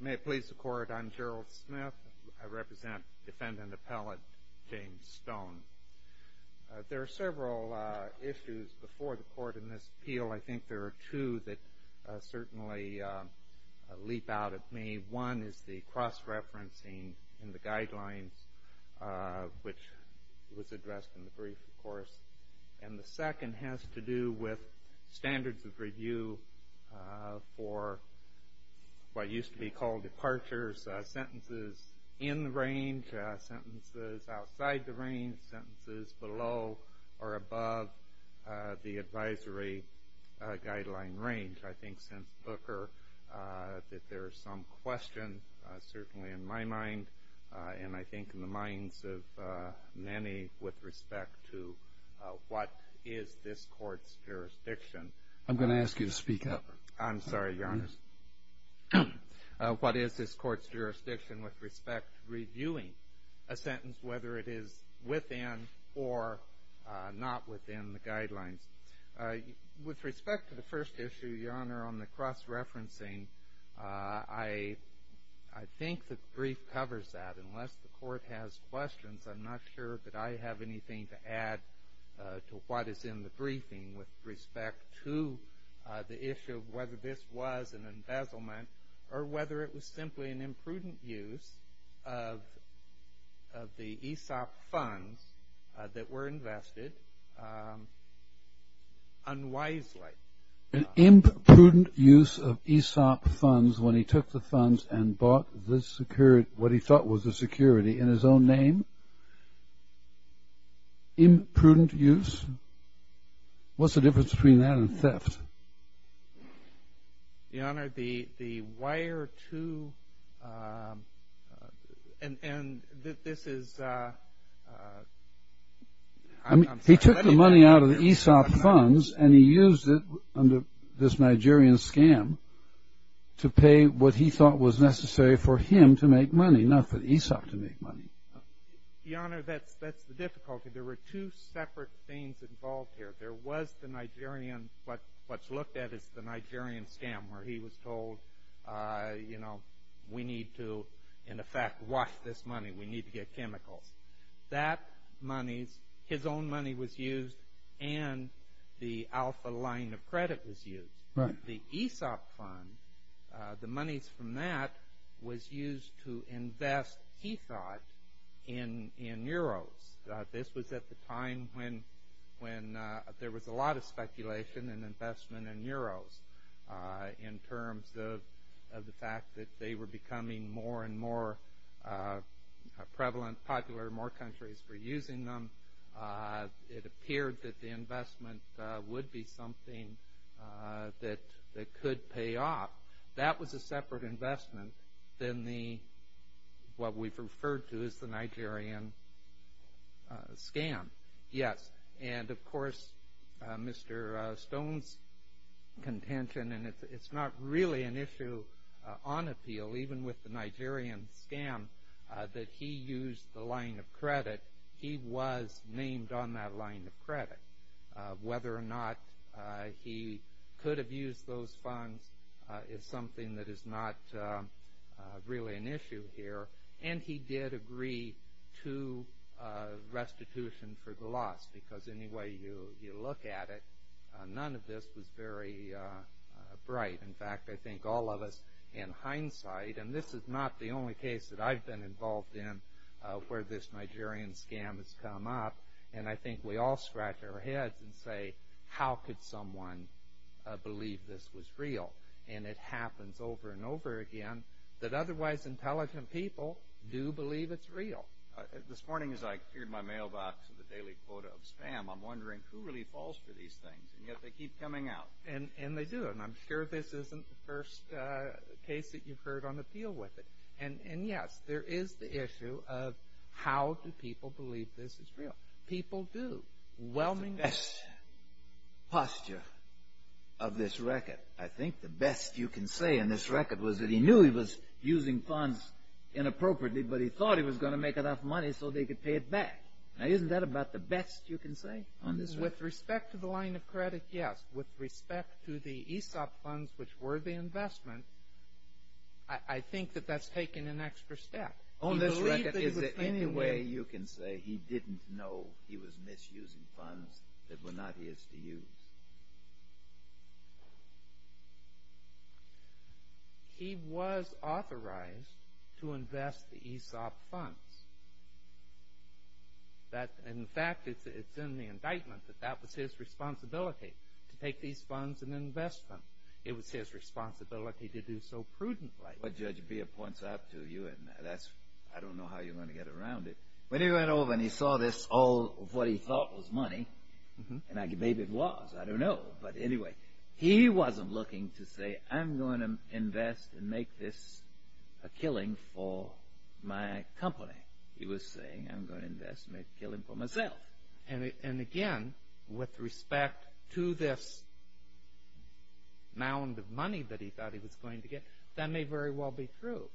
May it please the court, I'm Gerald Smith. I represent defendant appellate James Stone. There are several issues before the court in this appeal. I think there are two that certainly leap out at me. One is the cross-referencing in the guidelines, which was addressed in the brief, of course. And the second has to do with standards of review for what used to be called departures, sentences in the range, sentences outside the range, sentences below or above the advisory guideline range. I think since Booker that there is some question, certainly in my mind and I think in the minds of many, with respect to what is this court's jurisdiction. I'm going to ask you to speak up. I'm sorry, Your Honor. What is this court's jurisdiction with respect to reviewing a sentence, whether it is within or not within the guidelines? With respect to the first issue, Your Honor, on the cross-referencing, I think the brief covers that. Unless the court has questions, I'm not sure that I have anything to add to what is in the briefing with respect to the issue of whether this was an embezzlement or whether it was simply an imprudent use of the ESOP funds that were invested unwisely. An imprudent use of ESOP funds when he took the funds and bought what he thought was a security in his own name? Imprudent use? What's the difference between that and theft? Your Honor, the wire to, and this is, I'm sorry. He took the money out of the ESOP funds and he used it under this Nigerian scam to pay what he thought was necessary for him to make money, not for ESOP to make money. Your Honor, that's the difficulty. There were two separate things involved here. There was the Nigerian, what's looked at as the Nigerian scam where he was told, you know, we need to, in effect, wash this money, we need to get chemicals. That money, his own money was used, and the alpha line of credit was used. The ESOP fund, the monies from that was used to invest, he thought, in euros. This was at the time when there was a lot of speculation and investment in euros in terms of the fact that they were becoming more and more prevalent, popular, more countries were using them. It appeared that the investment would be something that could pay off. That was a separate investment than the, what we've referred to as the Nigerian scam. Yes, and of course, Mr. Stone's contention, and it's not really an issue on appeal, even with the Nigerian scam that he used the line of credit, he was named on that line of credit. Whether or not he could have used those funds is something that is not really an issue here. And he did agree to restitution for the loss, because any way you look at it, none of this was very bright. In fact, I think all of us, in hindsight, and this is not the only case that I've been involved in where this Nigerian scam has come up, and I think we all scratch our heads and say, how could someone believe this was real? And it happens over and over again that otherwise intelligent people do believe it's real. This morning as I cleared my mailbox with a daily quota of spam, I'm wondering who really falls for these things, and yet they keep coming out. And they do, and I'm sure this isn't the first case that you've heard on appeal with it. And yes, there is the issue of how do people believe this is real? People do. That's the best posture of this record. I think the best you can say on this record was that he knew he was using funds inappropriately, but he thought he was going to make enough money so they could pay it back. Now, isn't that about the best you can say on this record? With respect to the line of credit, yes. With respect to the ESOP funds, which were the investment, I think that that's taken an extra step. On this record, is there any way you can say he didn't know he was misusing funds that were not his to use? He was authorized to invest the ESOP funds. In fact, it's in the indictment that that was his responsibility, to take these funds and invest them. It was his responsibility to do so prudently. What Judge Beer points out to you, and I don't know how you're going to get around it, when he went over and he saw this, all of what he thought was money, and maybe it was, I don't know, but anyway, he wasn't looking to say, I'm going to invest and make this a killing for my company. He was saying, I'm going to invest and make a killing for myself. And again, with respect to this mound of money that he thought he was going to get, that may very well be true.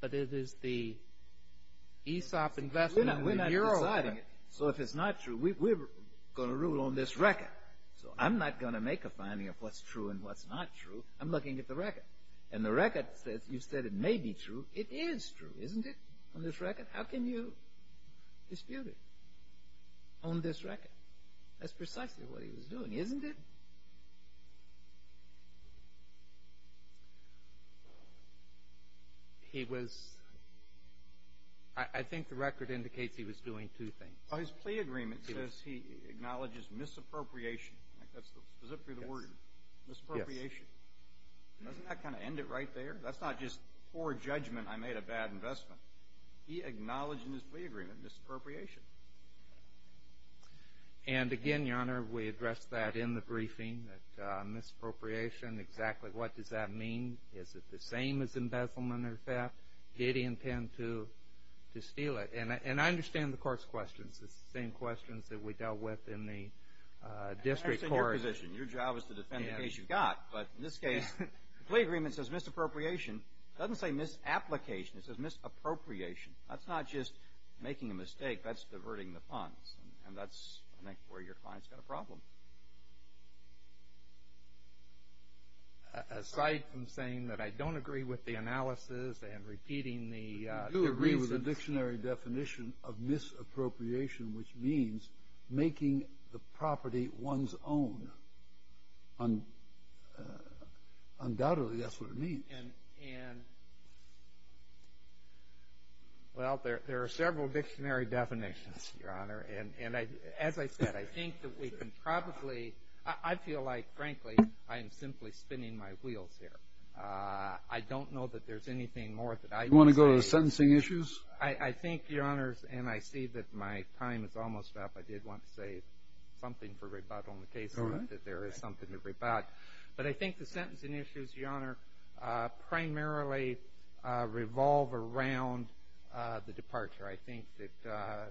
But it is the ESOP investment. We're not deciding it, so if it's not true, we're going to rule on this record. So I'm not going to make a finding of what's true and what's not true. I'm looking at the record. And the record says you said it may be true. It is true, isn't it, on this record? How can you dispute it on this record? That's precisely what he was doing, isn't it? He was – I think the record indicates he was doing two things. His plea agreement says he acknowledges misappropriation. That's specifically the word, misappropriation. Doesn't that kind of end it right there? That's not just poor judgment, I made a bad investment. He acknowledged in his plea agreement misappropriation. And again, Your Honor, we addressed that in the briefing, that misappropriation, exactly what does that mean? Is it the same as embezzlement or theft? Did he intend to steal it? And I understand the court's questions. It's the same questions that we dealt with in the district court. That's in your position. Your job is to defend the case you've got. But in this case, the plea agreement says misappropriation. It doesn't say misapplication. It says misappropriation. That's not just making a mistake. That's diverting the funds. And that's, I think, where your client's got a problem. Aside from saying that I don't agree with the analysis and repeating the reasons. I agree with the dictionary definition of misappropriation, which means making the property one's own. Undoubtedly, that's what it means. And, well, there are several dictionary definitions, Your Honor. And as I said, I think that we can probably ‑‑ I feel like, frankly, I am simply spinning my wheels here. I don't know that there's anything more that I can say. You want to go to the sentencing issues? I think, Your Honor, and I see that my time is almost up, I did want to say something for rebuttal in the case, that there is something to rebut. But I think the sentencing issues, Your Honor, primarily revolve around the departure. I think that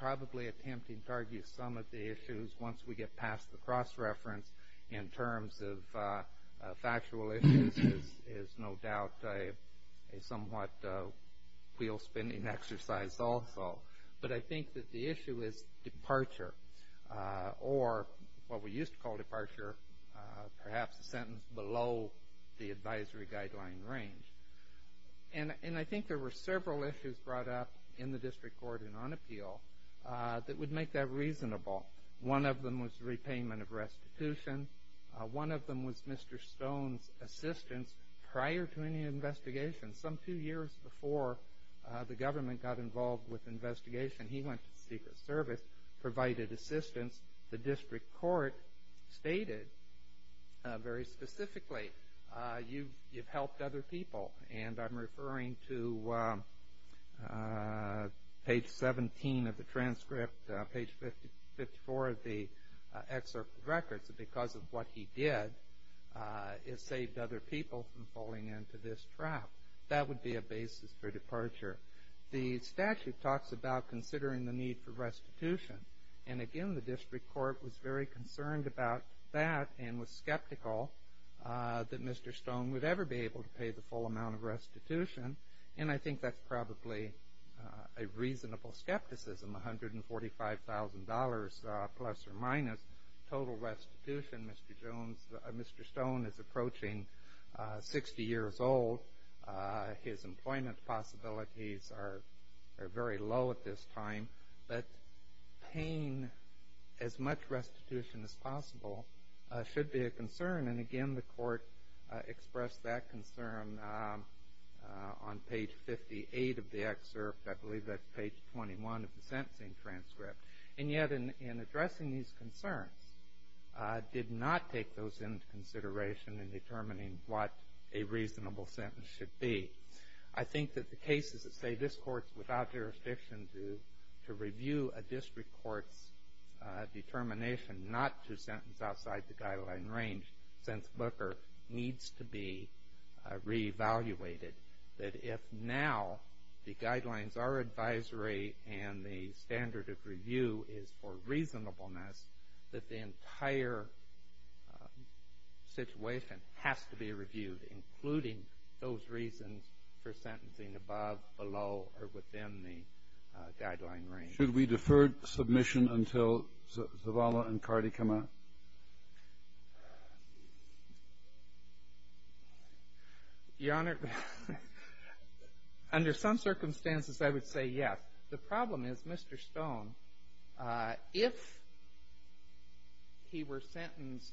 probably attempting to argue some of the issues once we get past the cross-reference in terms of factual issues is no doubt a somewhat wheel-spinning exercise also. But I think that the issue is departure, or what we used to call departure, perhaps a sentence below the advisory guideline range. And I think there were several issues brought up in the district court and on appeal that would make that reasonable. One of them was repayment of restitution. One of them was Mr. Stone's assistance prior to any investigation. Some two years before the government got involved with investigation, he went to Secret Service, provided assistance. The district court stated very specifically, you've helped other people. And I'm referring to page 17 of the transcript, page 54 of the excerpt of the records. Because of what he did, it saved other people from falling into this trap. That would be a basis for departure. The statute talks about considering the need for restitution. And again, the district court was very concerned about that and was skeptical that Mr. Stone would ever be able to pay the full amount of restitution. And I think that's probably a reasonable skepticism, $145,000 plus or minus total restitution. Mr. Stone is approaching 60 years old. His employment possibilities are very low at this time. But paying as much restitution as possible should be a concern. And again, the court expressed that concern on page 58 of the excerpt. I believe that's page 21 of the sentencing transcript. And yet, in addressing these concerns, did not take those into consideration in determining what a reasonable sentence should be. I think that the cases that say this court is without jurisdiction to review a district court's determination not to sentence outside the guideline range, since Booker, needs to be re-evaluated. That if now the guidelines are advisory and the standard of review is for reasonableness, that the entire situation has to be reviewed, including those reasons for sentencing above, below, or within the guideline range. Should we defer submission until Zavala and Cardi come out? Your Honor, under some circumstances, I would say yes. The problem is, Mr. Stone, if he were sentenced,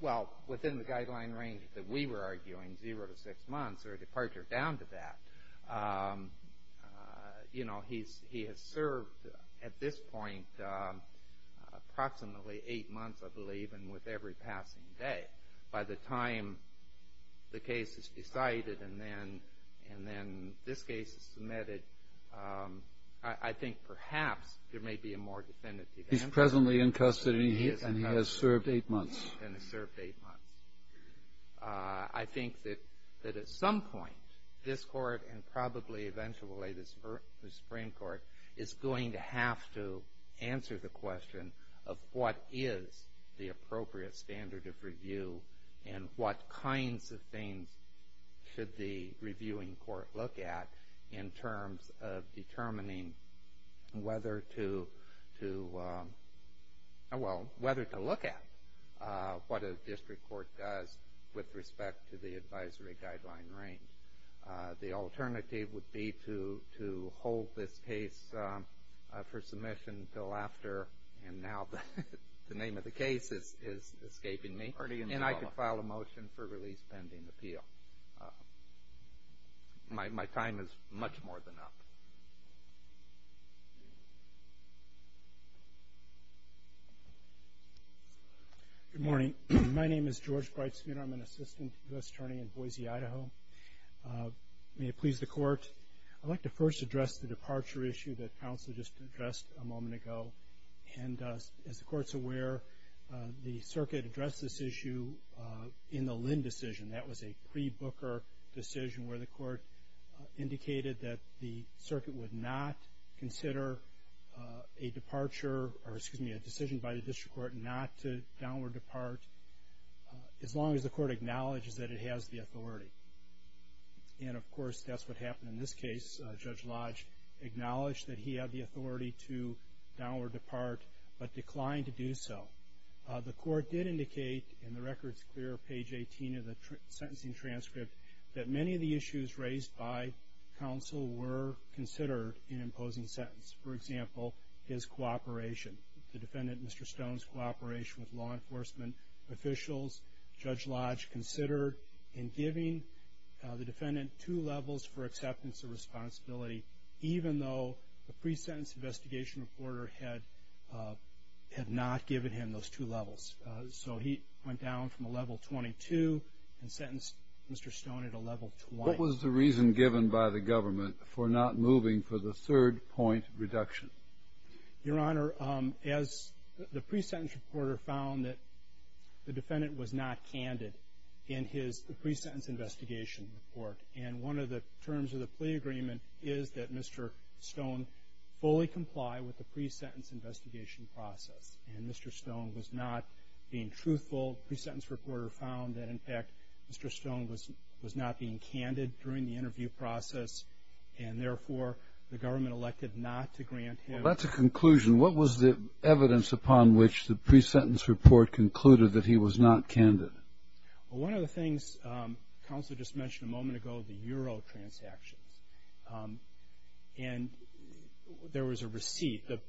well, within the guideline range that we were arguing, zero to six months or a departure down to that, he has served at this point approximately eight months, I believe, and with every passing day. By the time the case is decided and then this case is submitted, I think perhaps there may be a more definitive answer. He's presently in custody and he has served eight months. And has served eight months. I think that at some point, this Court and probably eventually the Supreme Court is going to have to answer the question of what is the appropriate standard of review and what kinds of things should the reviewing court look at in terms of determining whether to look at what a district court does with respect to the advisory guideline range. The alternative would be to hold this case for submission until after, and now the name of the case is escaping me, and I could file a motion for release pending appeal. My time is much more than up. Good morning. My name is George Breitschmidt. I'm an assistant U.S. attorney in Boise, Idaho. May it please the Court. I'd like to first address the departure issue that counsel just addressed a moment ago. And as the Court's aware, the circuit addressed this issue in the Lynn decision. That was a pre-Booker decision where the Court indicated that the circuit would not consider a departure, or excuse me, a decision by the district court not to downward depart as long as the Court acknowledges that it has the authority. And, of course, that's what happened in this case. Judge Lodge acknowledged that he had the authority to downward depart but declined to do so. The Court did indicate, and the record's clear, page 18 of the sentencing transcript, that many of the issues raised by counsel were considered in imposing sentence. For example, his cooperation. The defendant, Mr. Stone's cooperation with law enforcement officials. Judge Lodge considered in giving the defendant two levels for acceptance of responsibility, even though the pre-sentence investigation reporter had not given him those two levels. So he went down from a level 22 and sentenced Mr. Stone at a level 20. What was the reason given by the government for not moving for the third point reduction? Your Honor, as the pre-sentence reporter found that the defendant was not candid in his pre-sentence investigation report, and one of the terms of the plea agreement is that Mr. Stone fully comply with the pre-sentence investigation process, and Mr. Stone was not being truthful. The federal pre-sentence reporter found that, in fact, Mr. Stone was not being candid during the interview process, and therefore the government elected not to grant him. Well, that's a conclusion. What was the evidence upon which the pre-sentence report concluded that he was not candid? Well, one of the things counsel just mentioned a moment ago, the Euro transactions. And there was a receipt. The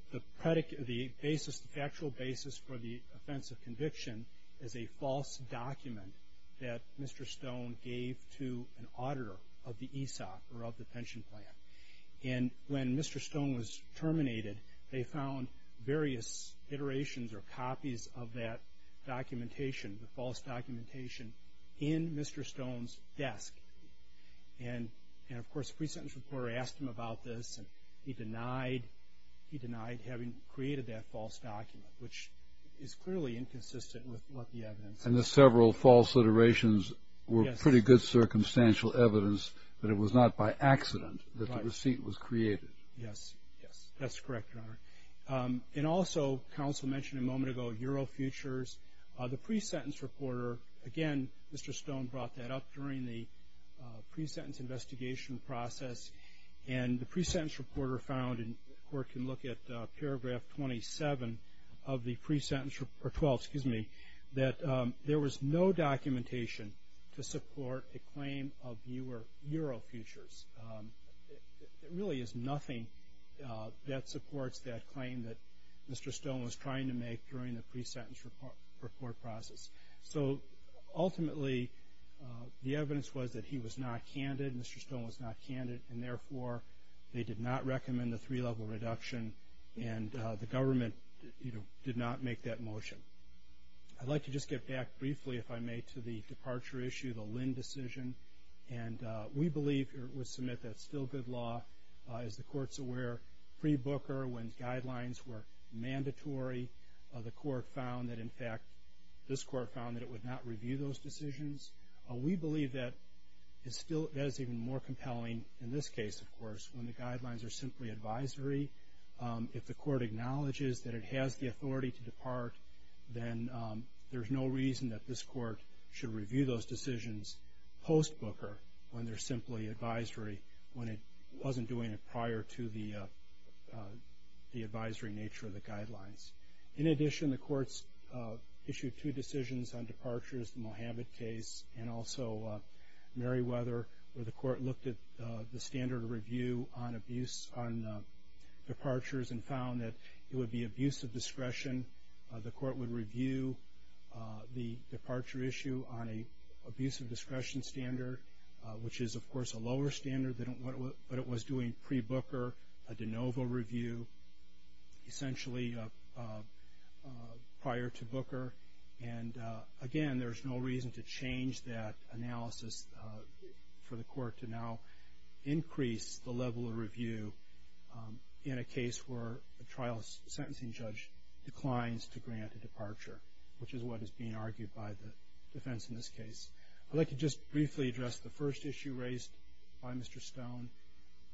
factual basis for the offense of conviction is a false document that Mr. Stone gave to an auditor of the ESOP, or of the pension plan. And when Mr. Stone was terminated, they found various iterations or copies of that documentation, the false documentation, in Mr. Stone's desk. And, of course, the pre-sentence reporter asked him about this, and he denied having created that false document, which is clearly inconsistent with what the evidence says. And the several false iterations were pretty good circumstantial evidence that it was not by accident that the receipt was created. Yes, yes, that's correct, Your Honor. And also, counsel mentioned a moment ago, Euro futures. The pre-sentence reporter, again, Mr. Stone brought that up during the pre-sentence investigation process, and the pre-sentence reporter found, and the Court can look at paragraph 27 of the pre-sentence, or 12, excuse me, that there was no documentation to support a claim of Euro futures. There really is nothing that supports that claim that Mr. Stone was trying to make during the pre-sentence report process. So, ultimately, the evidence was that he was not candid, Mr. Stone was not candid, and, therefore, they did not recommend a three-level reduction, and the government did not make that motion. I'd like to just get back briefly, if I may, to the departure issue, the Lynn decision. And we believe, or would submit, that it's still good law. As the Court's aware, pre-Booker, when guidelines were mandatory, the Court found that, in fact, this Court found that it would not review those decisions. We believe that that's even more compelling in this case, of course, when the guidelines are simply advisory. If the Court acknowledges that it has the authority to depart, then there's no reason that this Court should review those decisions post-Booker when they're simply advisory, when it wasn't doing it prior to the advisory nature of the guidelines. In addition, the Court's issued two decisions on departures, the Mohammad case and also Meriwether, where the Court looked at the standard of review on departures and found that it would be abuse of discretion. The Court would review the departure issue on an abuse of discretion standard, which is, of course, a lower standard than what it was doing pre-Booker, a de novo review, essentially prior to Booker. And, again, there's no reason to change that analysis for the Court to now increase the level of review in a case where a trial sentencing judge declines to grant a departure, which is what is being argued by the defense in this case. I'd like to just briefly address the first issue raised by Mr. Stone,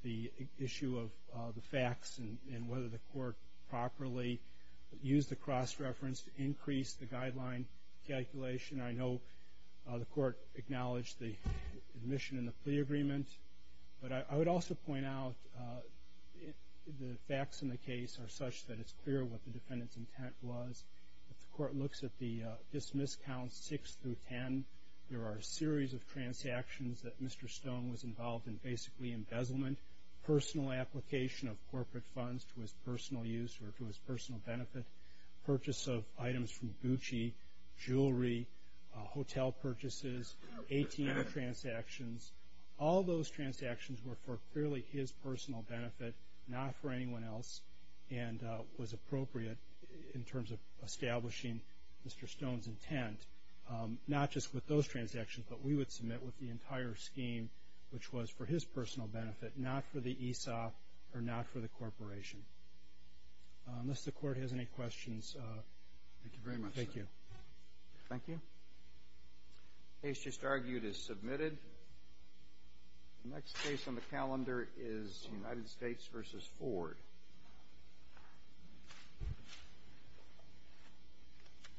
the issue of the facts and whether the Court properly used the cross-reference to increase the guideline calculation. I know the Court acknowledged the admission in the plea agreement, but I would also point out the facts in the case are such that it's clear what the defendant's intent was. If the Court looks at the dismiss counts 6 through 10, there are a series of transactions that Mr. Stone was involved in, basically embezzlement, personal application of corporate funds to his personal use or to his personal benefit, purchase of items from Gucci, jewelry, hotel purchases, ATM transactions. All those transactions were for clearly his personal benefit, not for anyone else, and was appropriate in terms of establishing Mr. Stone's intent, not just with those transactions, but we would submit with the entire scheme, which was for his personal benefit, not for the ESOP or not for the corporation. Unless the Court has any questions. Thank you very much, sir. Thank you. Thank you. The case just argued is submitted. The next case on the calendar is United States v. Ford.